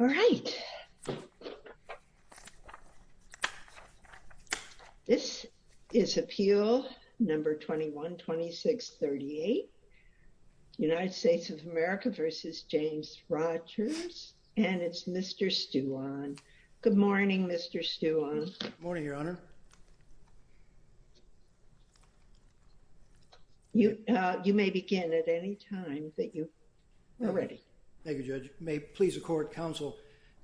All right. This is Appeal No. 21-2638, United States of America v. James Rogers, and it's Mr. Stuwan. Good morning, Mr. Stuwan. Good morning, Your Honor. You may begin at any time that you are ready. Thank you, Judge. May it please the Court, Counsel,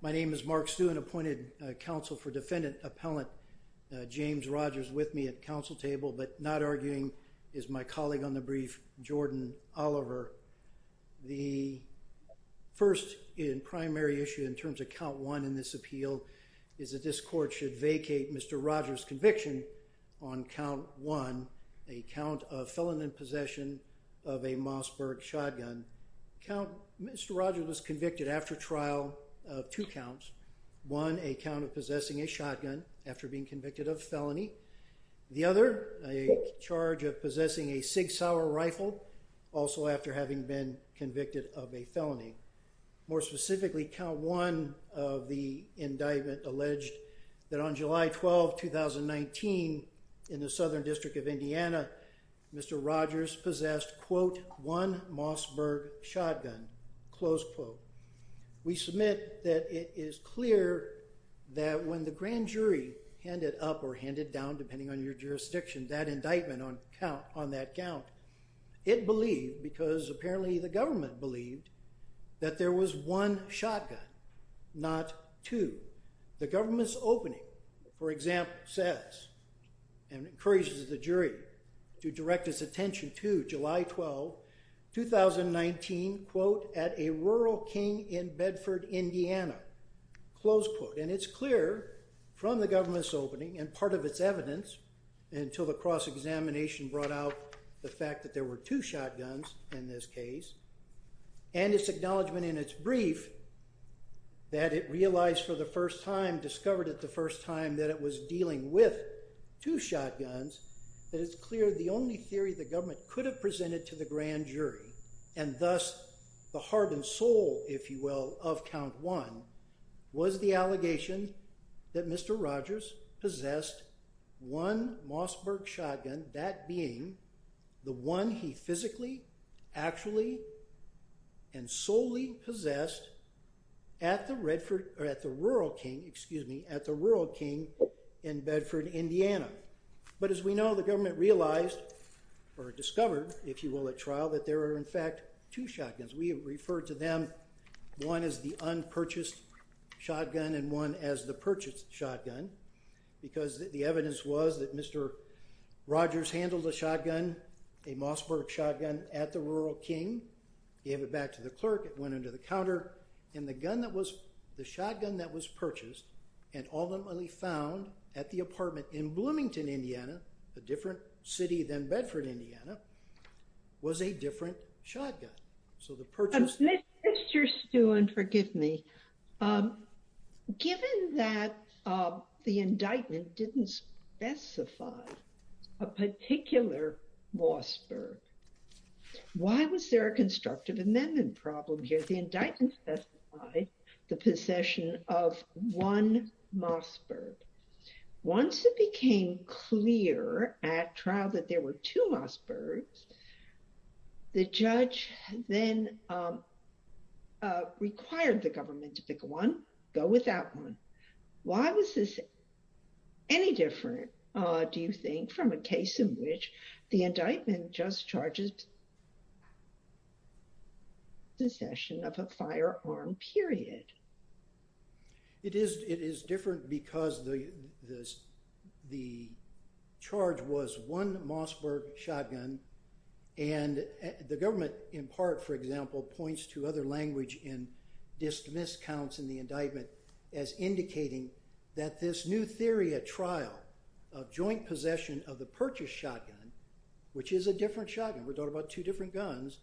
my name is Mark Stuwan, appointed Counsel for Defendant Appellant James Rogers with me at the Counsel table, but not arguing is my colleague on the brief, Jordan Oliver. The first and primary issue in terms of Count 1 in this appeal is that this Court should vacate Mr. Rogers' conviction on Count 1, a count of felon in possession of a Mossberg shotgun. Mr. Rogers was convicted after trial of two counts, one, a count of possessing a shotgun after being convicted of felony. The other, a charge of possessing a Sig Sauer rifle, also after having been convicted of a felony. More specifically, Count 1 of the indictment alleged that on July 12, 2019, in the Southern District of Indiana, Mr. Rogers possessed, quote, one Mossberg shotgun, close quote. We submit that it is clear that when the grand jury handed up or handed down, depending on your jurisdiction, that indictment on that count, it believed, because apparently the indictment said so, that there was one shotgun, not two. The government's opening, for example, says and encourages the jury to direct its attention to July 12, 2019, quote, at a rural king in Bedford, Indiana, close quote. And it's clear from the government's opening and part of its evidence until the cross-examination brought out the fact that there were two shotguns in this case, and its acknowledgment in its brief that it realized for the first time, discovered it the first time, that it was dealing with two shotguns, that it's clear the only theory the government could have presented to the grand jury, and thus the heart and soul, if you will, of Count 1, was the allegation that Mr. Rogers possessed one actually and solely possessed at the rural king in Bedford, Indiana. But as we know, the government realized or discovered, if you will, at trial, that there were in fact two shotguns. We refer to them, one as the unpurchased shotgun and one as the purchased shotgun, because the evidence was that Mr. Rogers handled a shotgun, a Mossberg shotgun, at the rural king, gave it back to the clerk, it went into the counter, and the gun that was, the shotgun that was purchased and ultimately found at the apartment in Bloomington, Indiana, a different city than Bedford, Indiana, was a different shotgun. So the purchase... Mr. Stewart, forgive me. Given that the indictment didn't specify a particular Mossberg, why was there a constructive amendment problem here? The indictment specified the possession of one Mossberg. Once it became clear at trial that there were two Mossbergs, the judge then required the government to pick one, go with that one. Why was this any different, do you think, from a case in which the indictment just charges possession of a firearm, period? It is different because the charge was one Mossberg shotgun, and the government in part, for example, points to other language in dismissed counts in the indictment as indicating that this new theory at trial of joint possession of the purchased shotgun, which is a different shotgun, we're talking about two different guns,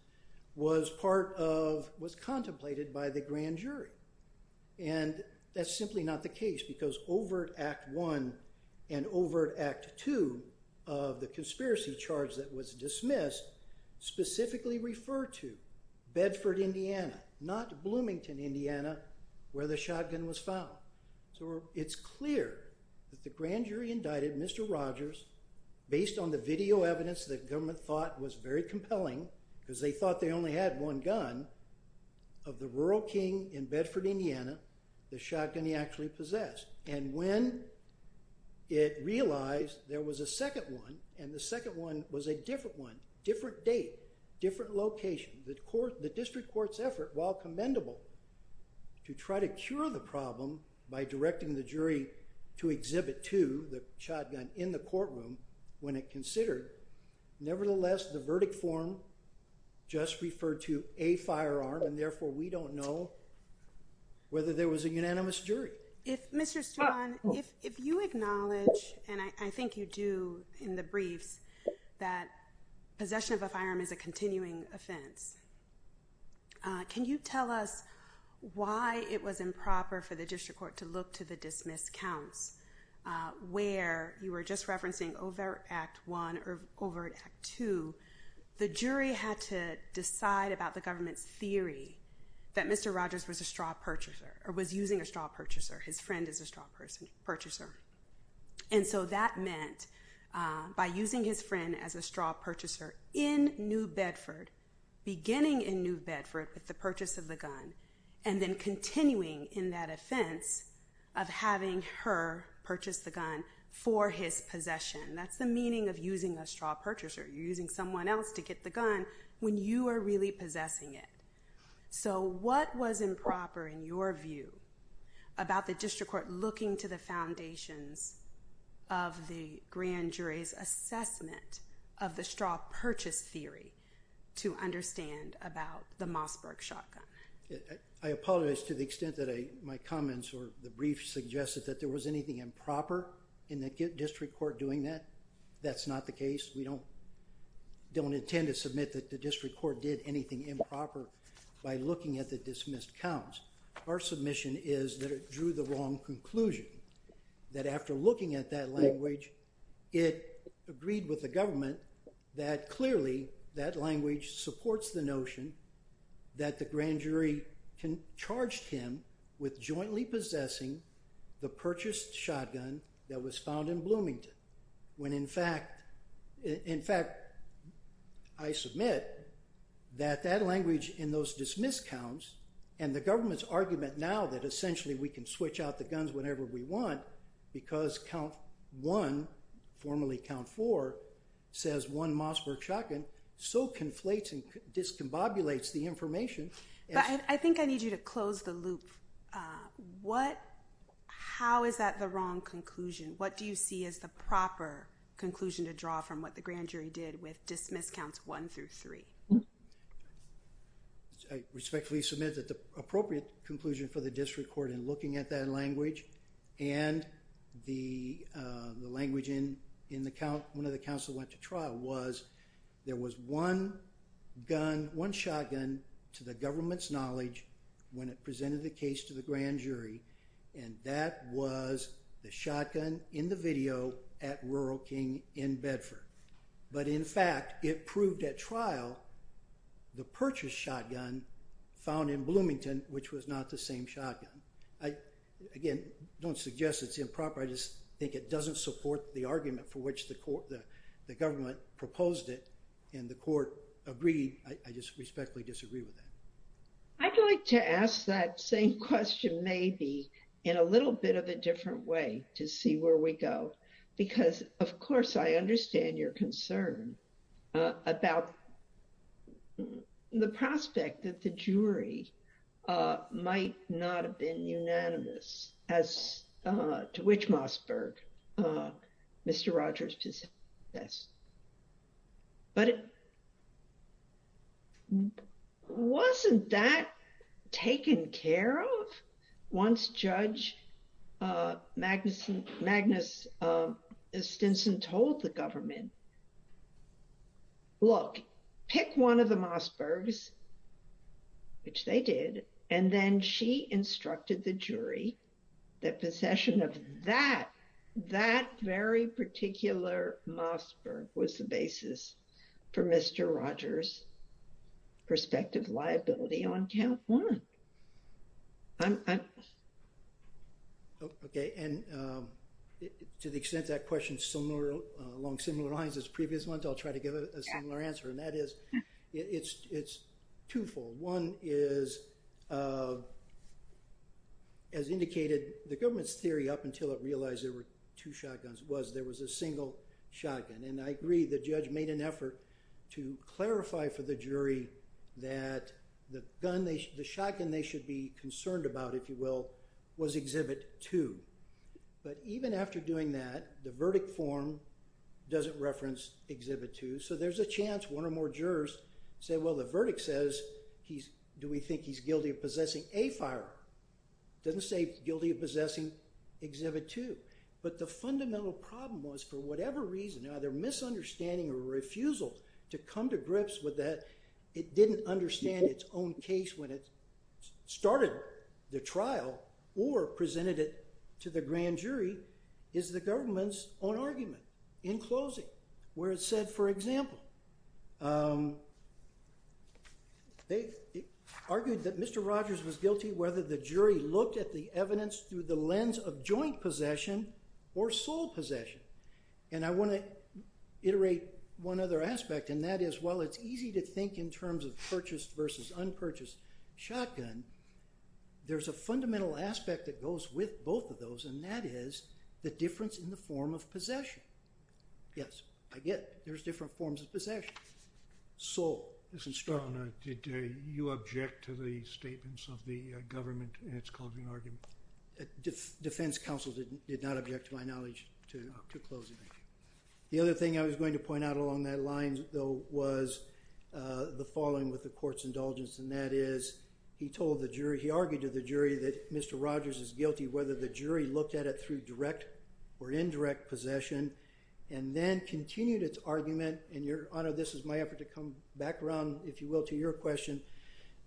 was part of, was contemplated by the grand jury. And that's simply not the case because Overt Act I and Overt Act II of the conspiracy charge that was dismissed specifically referred to Bedford, Indiana, not Bloomington, Indiana, where the shotgun was found. So it's clear that the grand jury indicted Mr. Rogers based on the video evidence that government thought was very compelling, because they thought they only had one gun, of the rural king in Bedford, Indiana, the shotgun he actually possessed. And when it realized there was a second one, and the second one was a different one, different date, different location, the district court's effort, while commendable, to try to cure the problem by directing the jury to exhibit two, the shotgun, in the courtroom when it considered, nevertheless, the verdict form just referred to a firearm, and therefore we don't know whether there was a unanimous jury. If Mr. Stewart, if you acknowledge, and I think you do in the briefs, that possession of a firearm is a continuing offense, can you tell us why it was improper for the district court to look to the dismissed counts, where you were just referencing Overt Act I or Overt Act II, the jury had to decide about the government's theory that Mr. Rogers was a straw purchaser, or was using a straw purchaser, his friend as a straw purchaser. And so that meant, by using his friend as a straw purchaser in New Bedford, beginning in New Bedford with the purchase of the gun, and then continuing in that offense of having her purchase the gun for his possession, that's the meaning of using a straw purchaser, you're using someone else to get the gun when you are really possessing it. So what was improper in your view about the district court looking to the foundations of the grand jury's assessment of the straw purchase theory to understand about the Mossberg shotgun? I apologize to the extent that my comments or the briefs suggested that there was anything improper in the district court doing that. That's not the case. We don't intend to submit that the district court did anything improper by looking at the dismissed counts. Our submission is that it drew the wrong conclusion, that after looking at that language, it agreed with the government that clearly that language supports the notion that the grand jury charged him with jointly possessing the purchased shotgun that was found in Bloomington, when in fact I submit that that language in those dismissed counts and the government's argument now that essentially we can switch out the guns whenever we want because count one, formerly count four, says one Mossberg shotgun, so conflates and discombobulates the information. I think I need you to close the loop. How is that the wrong conclusion? What do you see as the proper conclusion to draw from what the grand jury did with dismissed counts one through three? I respectfully submit that the appropriate conclusion for the district court in looking at that language and the language in one of the counts that went to trial was there was one gun, one shotgun to the government's knowledge when it presented the case to the grand jury, and that was the shotgun in the video at Rural King in Bedford. But in fact it proved at trial the purchased shotgun found in Bloomington, which was not the same shotgun. Again, I don't suggest it's improper. I just think it doesn't support the argument for which the government proposed it and the court agreed. I just respectfully disagree with that. I'd like to ask that same question maybe in a little bit of a different way to see where we go because of course I understand your concern about the prospect that the jury might not have been unanimous as to which Mossberg, Mr. Rogers possessed. But wasn't that taken care of once Judge Magnus Stinson told the government, look, pick one of the Mossbergs, which they did, and then she instructed the jury that possession of that, that very particular Mossberg was the basis for Mr. Rogers' prospective liability on count one. Okay, and to the extent that question is along similar lines as previous ones, I'll try to give a similar answer, and that is it's twofold. One is, as indicated, the government's theory up until it realized there were two shotguns was there was a single shotgun. And I agree the judge made an effort to clarify for the jury that the shotgun they should be concerned about, if you will, was exhibit two. But even after doing that, the verdict form doesn't reference exhibit two. So there's a chance one or more jurors say, well, the verdict says, do we think he's guilty of possessing a firearm? It doesn't say guilty of possessing exhibit two. But the fundamental problem was for whatever reason, either misunderstanding or refusal to come to grips with that, it didn't understand its own case when it started the trial or presented it to the grand jury is the government's own argument in closing where it said, for example, they argued that Mr. Rogers was guilty whether the jury looked at the evidence through the lens of joint possession or sole possession. And I want to iterate one other aspect, and that is, while it's easy to think in terms of purchased versus unpurchased shotgun, there's a fundamental aspect that goes with both of those, and that is the difference in the form of possession. Yes, I get it. There's different forms of possession. Sole. Did you object to the statements of the government in its closing argument? Defense counsel did not object to my knowledge to closing. The other thing I was going to is he told the jury, he argued to the jury that Mr. Rogers is guilty whether the jury looked at it through direct or indirect possession, and then continued its argument, and your Honor, this is my effort to come back around, if you will, to your question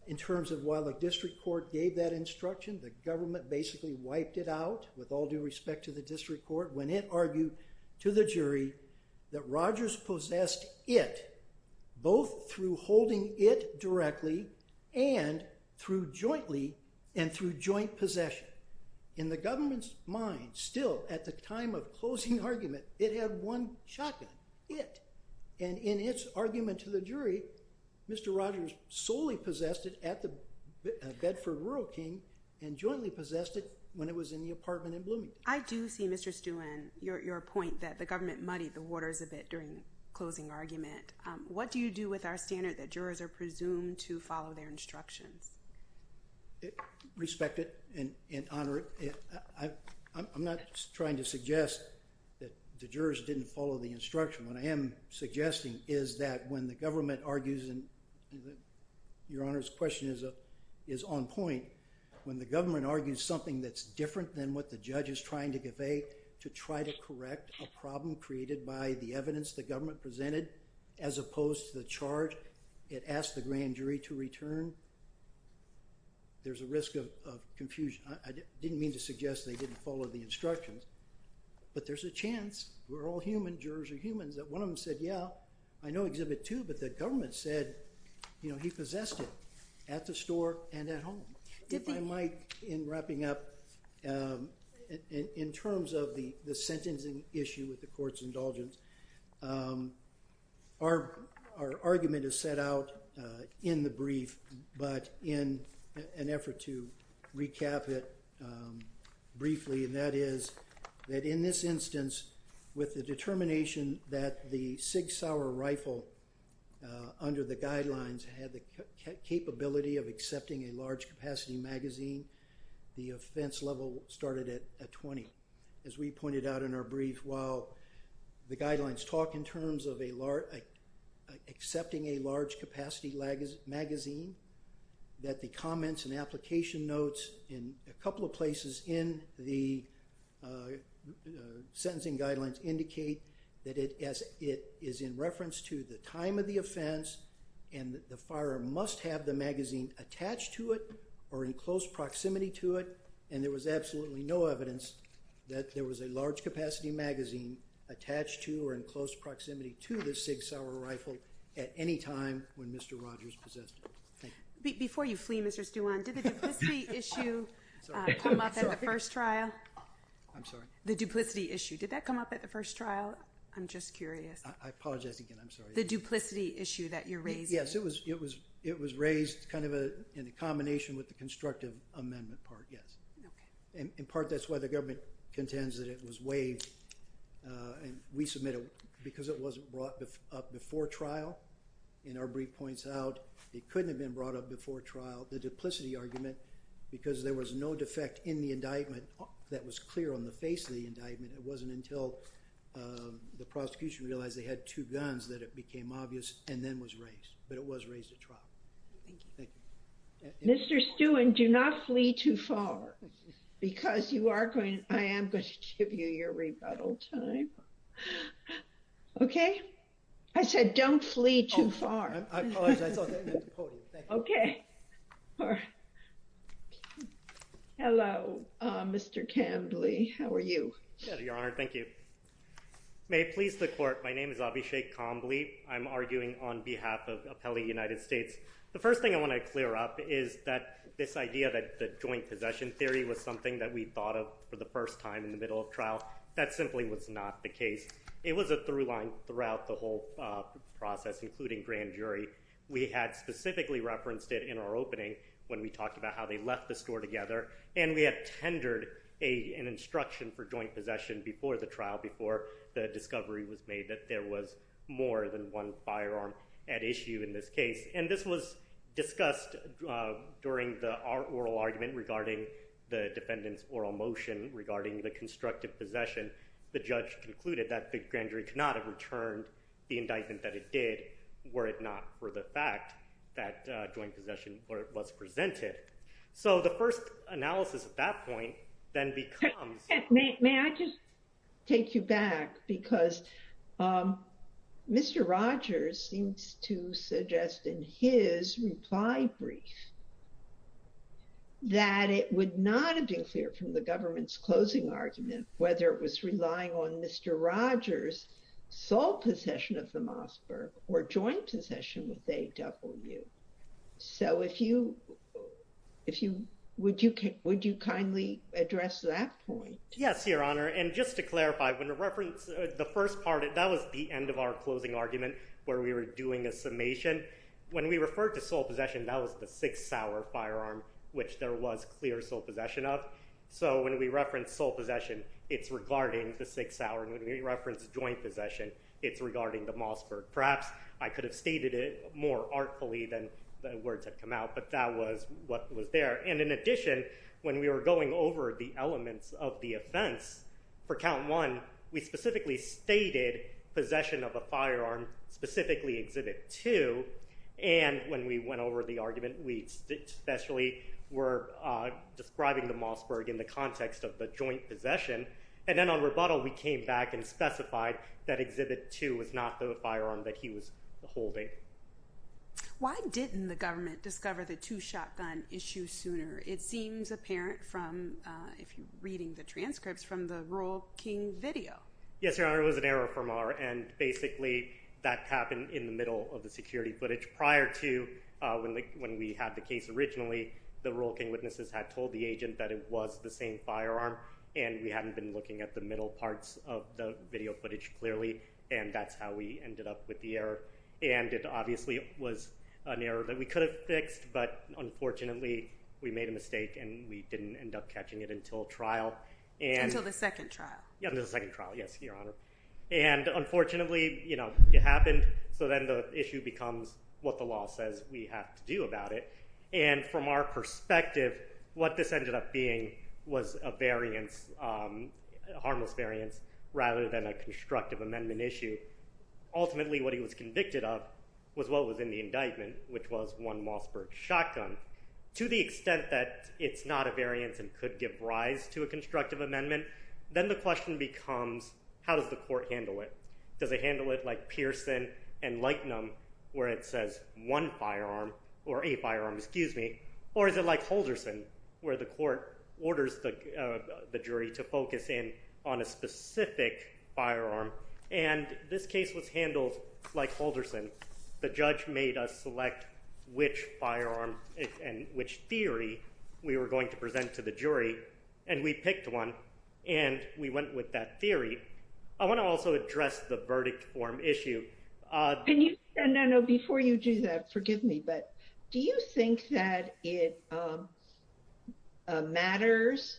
in terms of while the district court gave that instruction, the government basically wiped it out with all due respect to the district court when it argued to the jury that Rogers possessed it, both through holding it directly and through jointly and through joint possession. In the government's mind, still at the time of closing argument, it had one shotgun, it. And in its argument to the jury, Mr. Rogers solely possessed it at the Bedford Rural King and jointly possessed it when it was in the apartment in Bloomington. I do see, Mr. Stewart, your point that the government muddied the waters a bit during closing argument. What do you do with our standard that jurors are presumed to follow their instructions? Respect it and honor it. I'm not trying to suggest that the jurors didn't follow the instruction. What I am suggesting is that when the government argues, and your Honor's question is on point, when the government argues something that's different than what the judge is trying to convey, to try to correct a problem created by the evidence the government presented as opposed to the charge it asked the grand jury to return, there's a risk of confusion. I didn't mean to suggest they didn't follow the instructions. But there's a chance. We're all human. Jurors are humans. One of them said, yeah, I know Exhibit 2, but the government said he possessed it at the store and at home. If I might, in wrapping up, in terms of the sentencing issue with the court's indulgence, our argument is set out in the brief, but in an effort to recap it briefly, and that is that in this instance, with the determination that the Sig Sauer rifle, under the guidelines, had the capability of accepting a large capacity magazine, the offense level started at 20. As we pointed out in our brief, while the guidelines talk in terms of accepting a large capacity magazine, that the comments and application notes in a couple of places in the sentencing guidelines indicate that it is in reference to the time of the offense and the fire must have the magazine attached to it or in close proximity to it, and there was absolutely no evidence that there was a large capacity magazine attached to or in close proximity to the Sig Sauer rifle at any time when Mr. Rogers possessed it. Before you flee, Mr. Stewon, did the duplicity issue come up at the first trial? I'm sorry? The duplicity issue. Did that come up at the first trial? I'm just curious. I apologize again. I'm sorry. The duplicity issue that you're raising. Yes, it was raised kind of in combination with the constructive amendment part, yes. Okay. In part, that's why the government contends that it was waived and we submitted it because it wasn't brought up before trial in our brief points out. It couldn't have been brought up before trial, the duplicity argument, because there was no defect in the indictment that was clear on the face of the indictment. It wasn't until the prosecution realized they had two guns that it became obvious and then was raised, but it was raised at trial. Thank you. Thank you. Mr. Stewon, do not flee too far because you are going to, I am going to give you your rebuttal time. Okay. I said, don't flee too far. Okay. All right. Hello, Mr. Cambly. How are you? Good, Your Honor. Thank you. May it please the court. My name is Abhishek Cambly. I'm arguing on behalf of Appelli United States. The first thing I want to clear up is that this idea that the joint possession theory was something that we thought of for the first time in the middle of trial, that simply was not the case. It was a through line throughout the whole process, including grand jury. We had specifically referenced it in our opening when we talked about how they left the store together, and we had tendered an instruction for joint possession before the trial, before the discovery was made that there was more than one firearm at issue in this case. And this was discussed during the oral argument regarding the defendant's oral motion, regarding the constructive possession. The judge concluded that the grand jury could not have returned the indictment that it did, were it not for the fact that joint possession was presented. So the first analysis at that point then becomes... May I just take you back? Because Mr. Rogers seems to suggest in his reply brief that it would not have been clear from the government's closing argument, whether it was relying on Mr. Rogers' sole possession of the Mossberg or joint possession with AW. So would you kindly address that point? Yes, Your Honor. And just to clarify, the first part, that was the end of our closing argument where we were doing a summation. When we referred to sole possession, that was the sixth Sauer firearm, which there was clear sole possession of. So when we reference sole possession, it's regarding the sixth Sauer. And when we reference joint possession, it's regarding the Mossberg. Perhaps I could have stated it more artfully than the words have come out, but that was what was there. And in addition, when we were going over the elements of the offense for count one, we specifically stated possession of a firearm, specifically exhibit two. And when we went over the argument, we especially were describing the Mossberg in the context of the joint possession. And then on rebuttal, we came back and specified that exhibit two was not the firearm that he was holding. Why didn't the government discover the two shotgun issue sooner? It seems apparent from, if you're reading the transcripts, from the Rural King video. Yes, Your Honor, it was an error from our end. Basically, that happened in the middle of the security footage. Prior to when we had the case originally, the Rural King witnesses had told the agent that it was the same firearm, and we hadn't been looking at the middle parts of the video footage clearly, and that's how we ended up with the error. And it obviously was an error that we could have fixed, but unfortunately, we made a mistake and we didn't end up catching it until trial. Until the second trial. Yeah, until the second trial, yes, Your Honor. And unfortunately, it happened, so then the issue becomes what the law says we have to do about it. And from our perspective, what this ended up being was a harmless variance rather than a constructive amendment issue. Ultimately, what he was convicted of was what was in the indictment, which was one Mossberg shotgun. To the extent that it's not a variance and could give rise to a constructive amendment, then the question becomes how does the court handle it? Does it handle it like Pearson and Lightenum where it says one firearm or a firearm, excuse me, or is it like Holderson where the court orders the jury to focus in on a specific firearm? And this case was handled like Holderson. The judge made us select which firearm and which theory we were going to present to the jury. And we went with that theory. I want to also address the verdict form issue. Can you? No, no, before you do that, forgive me, but do you think that it matters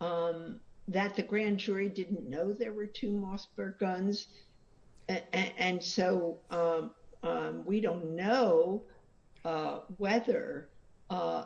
that the grand jury didn't know there were two Mossberg guns? And so we don't know whether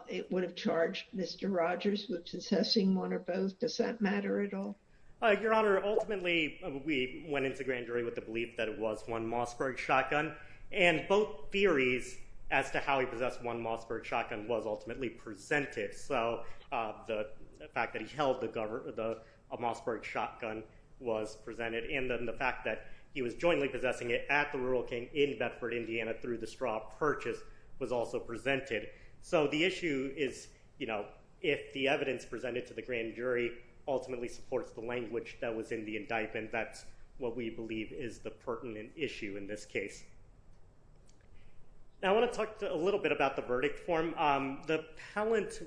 it would have charged Mr. Rogers with possessing one or both. Does that matter at all? Your Honor, ultimately, we went into grand jury with the belief that it was one Mossberg shotgun. And both theories as to how he possessed one Mossberg shotgun was ultimately presented. So the fact that he held a Mossberg shotgun was presented. And then the fact that he was jointly possessing it at the Rural King in Bedford, Indiana, through the straw purchase was also presented. So the issue is, you know, if the evidence presented to the grand jury ultimately supports the language that was in the indictment, that's what we believe is the pertinent issue in this case. Now I want to talk a little bit about the verdict form. The palant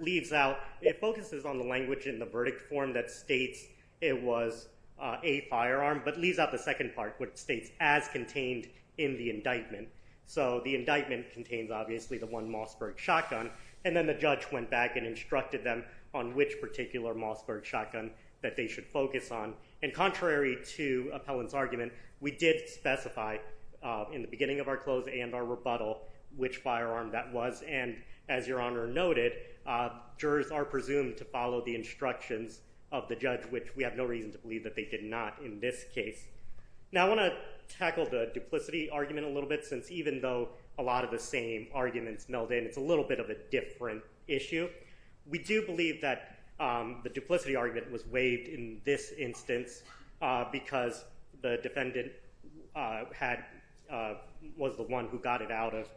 leaves out, it focuses on the language in the verdict form that states it was a firearm, but leaves out the second part, which states as contained in the indictment. So the indictment contains obviously the one Mossberg shotgun. And then the judge went back and instructed them on which particular Mossberg shotgun that they should focus on. And contrary to appellant's argument, we did specify in the beginning of our close and our rebuttal, which firearm that was. And as Your Honor noted, jurors are presumed to follow the instructions of the judge, which we have no reason to believe that they did not in this case. Now I want to tackle the duplicity argument a little bit, since even though a lot of the same arguments meld in, it's a little bit of a different issue. We do believe that the duplicity argument was waived in this instance because the defendant was the one who got it out of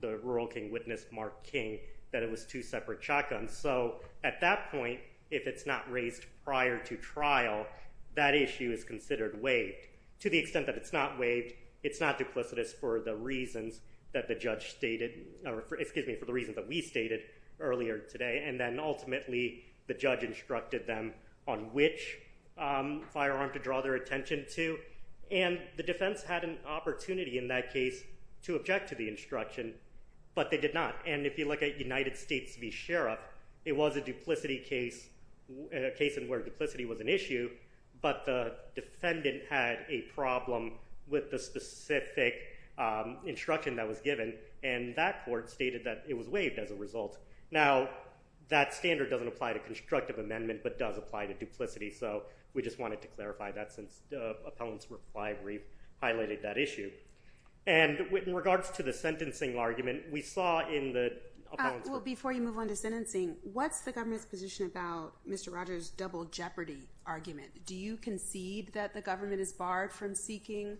the rural King witness, Mark King, that it was two separate shotguns. So at that point, if it's not raised prior to trial, that issue is considered waived to the extent that it's not waived. It's not duplicitous for the reasons that the judge stated, or excuse me, for the reason that we stated earlier today. And then ultimately the judge instructed them on which firearm to draw their attention to. And the defense had an opportunity in that case to object to the instruction, but they did not. And if you look at United States v. Sheriff, it was a duplicity case, a case in where duplicity was an issue, but the defendant had a problem with the specific instruction that was given and that court stated that it was waived as a result. Now that standard doesn't apply to constructive amendment, but does apply to duplicity. So we just wanted to clarify that since the appellant's reply highlighted that issue. And in regards to the sentencing argument, we saw in the appellant's- Well, before you move on to sentencing, what's the government's position about Mr. Rogers' double jeopardy argument? Do you concede that the government is barred from seeking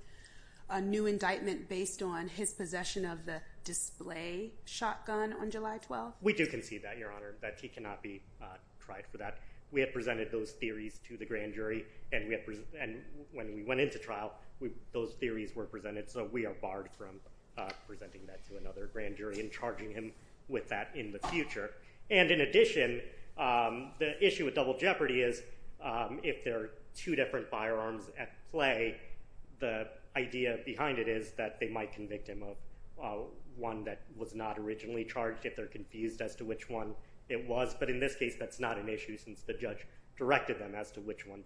a new indictment based on his possession of the display shotgun on July 12th? We do concede that, Your Honor, that he cannot be tried for that. We have presented those theories to the grand jury, and when we went into trial, those theories were presented, so we are barred from presenting that to another grand jury and charging him with that in the future. And in addition, the issue with double jeopardy is if there are two different firearms at play, the idea behind it is that they might convict him of one that was not originally charged if they're confused as to which one it was. But in this case, that's not an issue since the judge directed them as to which one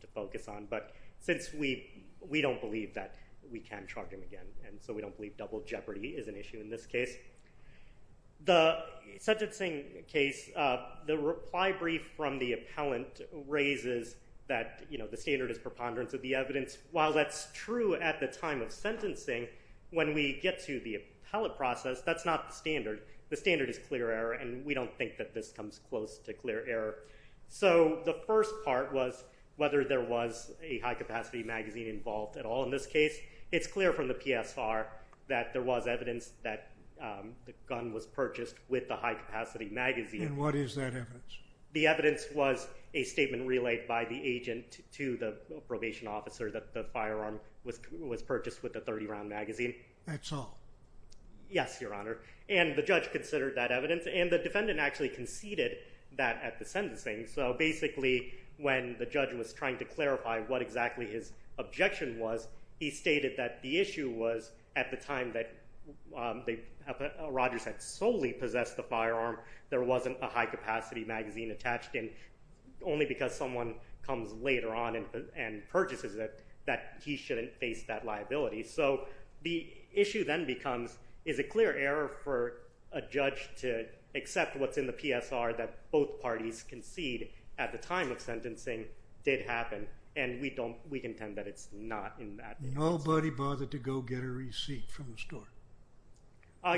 to charge him again, and so we don't believe double jeopardy is an issue in this case. The sentencing case, the reply brief from the appellant raises that the standard is preponderance of the evidence. While that's true at the time of sentencing, when we get to the appellate process, that's not the standard. The standard is clear error, and we don't think that this comes close to clear error. So the first part was whether there was a high-capacity magazine involved at all in this case. It's clear from the PSR that there was evidence that the gun was purchased with the high-capacity magazine. And what is that evidence? The evidence was a statement relayed by the agent to the probation officer that the firearm was purchased with the 30-round magazine. That's all? Yes, Your Honor. And the judge considered that evidence, and the defendant actually conceded that at the sentencing. So basically, when the judge was trying to clarify what exactly his objection was, he stated that the issue was at the time that Rodgers had solely possessed the firearm, there wasn't a high-capacity magazine attached, and only because someone comes later on and purchases it, that he shouldn't face that liability. So the issue then becomes, is it clear error for a judge to accept what's in the PSR that both parties concede at the time of sentencing did happen? And we don't, we contend that it's not in that instance. Nobody bothered to go get a receipt from the store?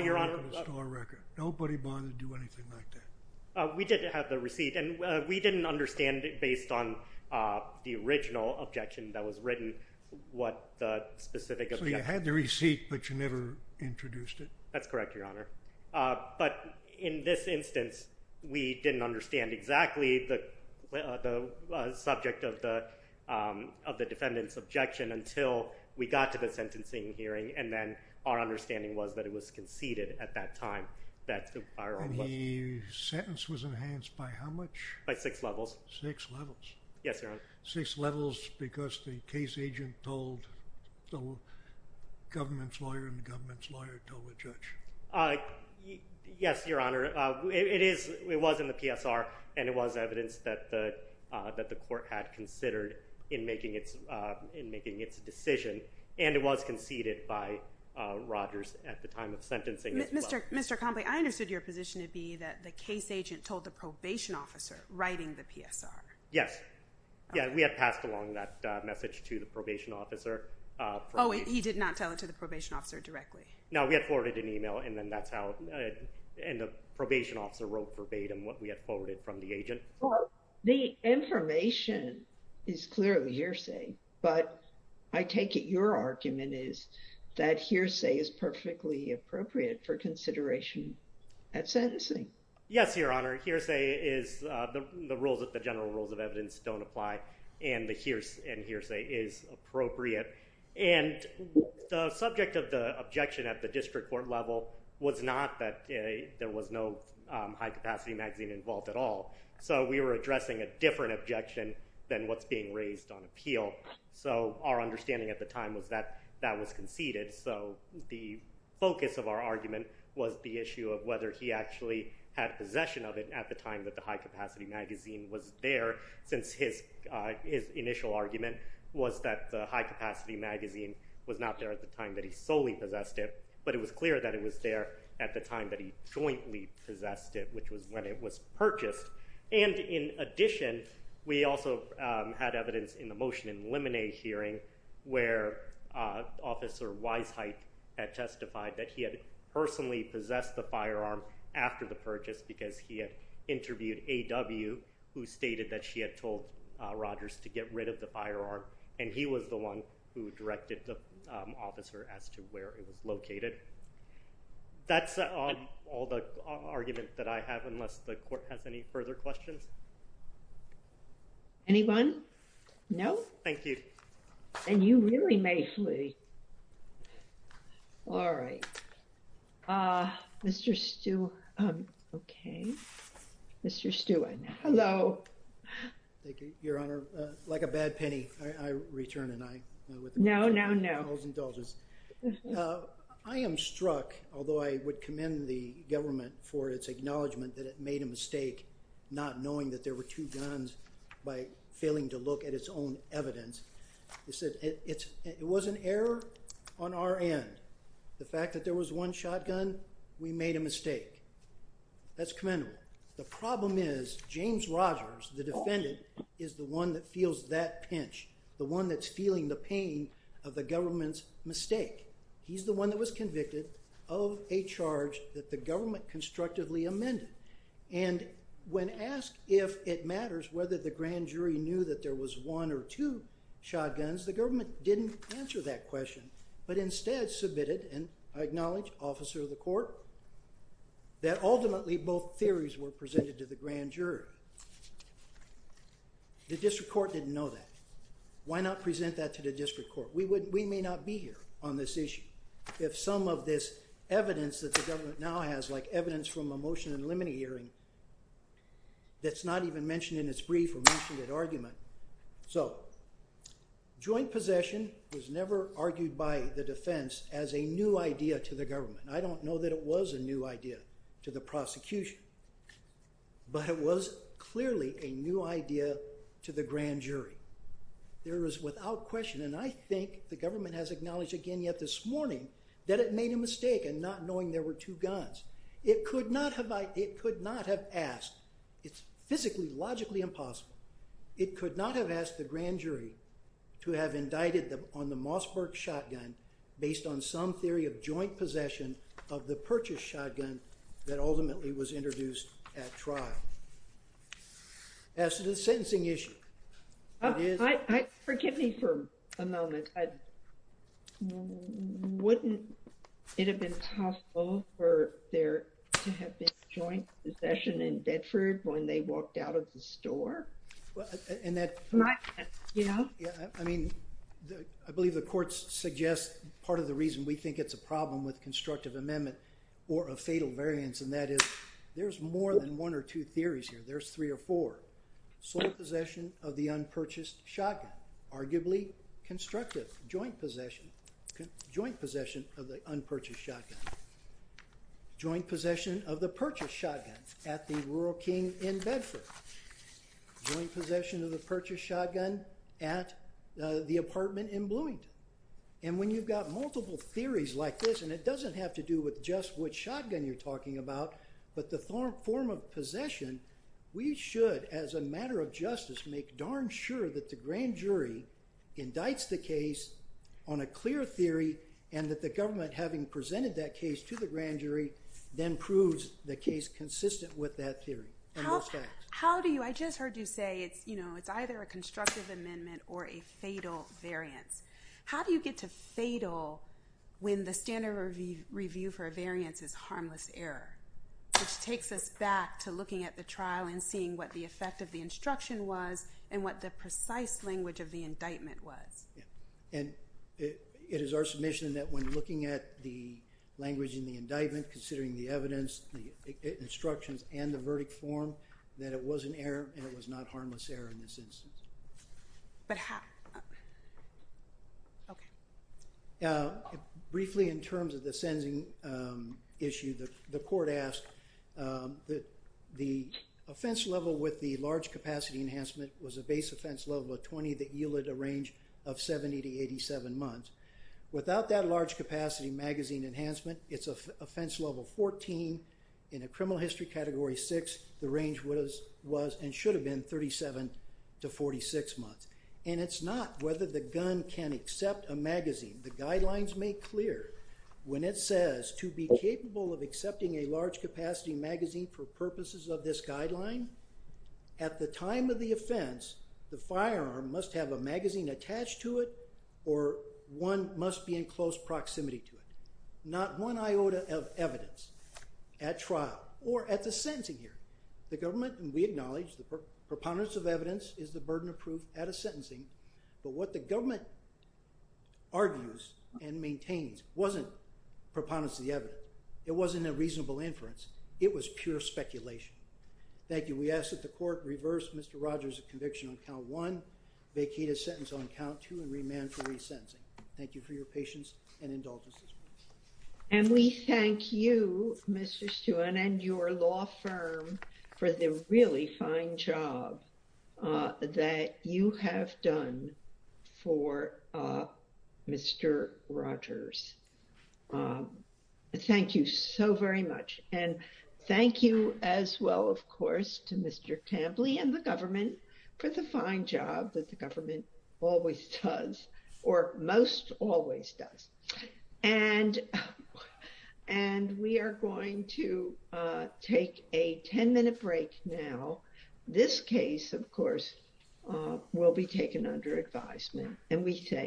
Your Honor. The store record. Nobody bothered to do anything like that? We did have the receipt, and we didn't understand it based on the original objection that was written, what the specific objection. So you had the receipt, but you never introduced it? That's correct, Your Honor. But in this instance, we didn't understand exactly the subject of the defendant's objection until we got to the sentencing hearing, and then our understanding was that it was conceded at that time that the firearm wasn't. And the sentence was enhanced by how much? By six levels. Six levels. Yes, Your Honor. Six levels because the case agent told the government's lawyer, and the government's Yes, Your Honor. It was in the PSR, and it was evidence that the court had considered in making its decision, and it was conceded by Rogers at the time of sentencing as well. Mr. Conley, I understood your position to be that the case agent told the probation officer writing the PSR. Yes. Yeah, we had passed along that message to the probation officer. Oh, and he did not tell it to the probation officer directly? No, we had forwarded an email, and then that's how, and the probation officer wrote verbatim what we had forwarded from the agent. The information is clearly hearsay, but I take it your argument is that hearsay is perfectly appropriate for consideration at sentencing. Yes, Your Honor. Hearsay is the rules that the general rules of evidence don't apply, and hearsay is appropriate. The subject of the objection at the district court level was not that there was no high capacity magazine involved at all, so we were addressing a different objection than what's being raised on appeal. Our understanding at the time was that that was conceded, so the focus of our argument was the issue of whether he actually had possession of it at the time that the high capacity magazine was not there at the time that he solely possessed it, but it was clear that it was there at the time that he jointly possessed it, which was when it was purchased. And in addition, we also had evidence in the motion in the Lemonade hearing where Officer Weisheit had testified that he had personally possessed the firearm after the purchase because he had interviewed A.W., who stated that she had told Rogers to get rid of the firearm, and he was the one who directed the officer as to where it was located. That's all the argument that I have, unless the court has any further questions. Anyone? No? Thank you. Then you really may flee. All right. Mr. Stewart. OK. Mr. Stewart. Hello. Thank you, Your Honor. Like a bad penny, I return an eye. No, no, no. I was indulgent. I am struck, although I would commend the government for its acknowledgement that it made a mistake not knowing that there were two guns by failing to look at its own evidence. It was an error on our end. The fact that there was one shotgun, we made a mistake. That's commendable. The problem is James Rogers, the defendant, is the one that feels that pinch, the one that's feeling the pain of the government's mistake. He's the one that was convicted of a charge that the government constructively amended. And when asked if it matters whether the grand jury knew that there was one or two shotguns, the government didn't answer that question, but instead submitted and acknowledged, officer of the court, that ultimately both theories were presented to the grand jury. The district court didn't know that. Why not present that to the district court? We may not be here on this issue if some of this evidence that the government now has, like evidence from a motion in limine hearing that's not even mentioned in its brief or mentioned at argument. So joint possession was never argued by the defense as a new idea to the government. I don't know that it was a new idea to the prosecution, but it was clearly a new idea to the grand jury. There is without question, and I think the government has acknowledged again yet this morning, that it made a mistake in not knowing there were two guns. It could not have asked. It's physically, logically impossible. It could not have asked the grand jury to have indicted them on the Mossberg shotgun based on some theory of joint possession of the purchase shotgun that ultimately was introduced at trial. As to the sentencing issue, it is- Forgive me for a moment. Wouldn't it have been hostile for there to have been joint possession in Bedford when they walked out of the store? I believe the courts suggest part of the reason we think it's a problem with constructive amendment or a fatal variance, and that is there's more than one or two theories here. There's three or four. Sole possession of the unpurchased shotgun, arguably constructive. Joint possession of the unpurchased shotgun. Joint possession of the purchased shotgun at the Rural King in Bedford. Joint possession of the purchased shotgun at the apartment in Bloomington. When you've got multiple theories like this, and it doesn't have to do with just which shotgun you're talking about, but the form of possession, we should, as a matter of justice, make darn sure that the grand jury indicts the case on a clear theory and that the government, having presented that case to the grand jury, then proves the case consistent with that theory. How do you- I just heard you say it's either a constructive amendment or a fatal variance. How do you get to fatal when the standard review for a variance is harmless error, which takes us back to looking at the trial and seeing what the effect of the instruction was and what the precise language of the indictment was? It is our submission that when looking at the language in the indictment, considering the evidence, the instructions, and the verdict form, that it was an error and it was not harmless error in this instance. Briefly, in terms of the sending issue, the court asked that the offense level with the gun be 70 to 87 months. Without that large capacity magazine enhancement, it's offense level 14. In a criminal history category 6, the range was and should have been 37 to 46 months. And it's not whether the gun can accept a magazine. The guidelines make clear when it says to be capable of accepting a large capacity magazine for purposes of this guideline, at the time of the offense the firearm must have a magazine attached to it or one must be in close proximity to it. Not one iota of evidence at trial or at the sentencing here. The government, and we acknowledge, the preponderance of evidence is the burden of proof at a sentencing. But what the government argues and maintains wasn't preponderance of the evidence. It wasn't a reasonable inference. It was pure speculation. Thank you. And we ask that the court reverse Mr. Rogers' conviction on count one, vacate his sentence on count two, and remand for resentencing. Thank you for your patience and indulgence. And we thank you, Mr. Stewart, and your law firm for the really fine job that you have done for Mr. Rogers. Thank you so very much. And thank you as well, of course, to Mr. Tampley and the government for the fine job that the government always does, or most always does. And we are going to take a 10-minute break now. This case, of course, will be taken under advisement. And we thank you.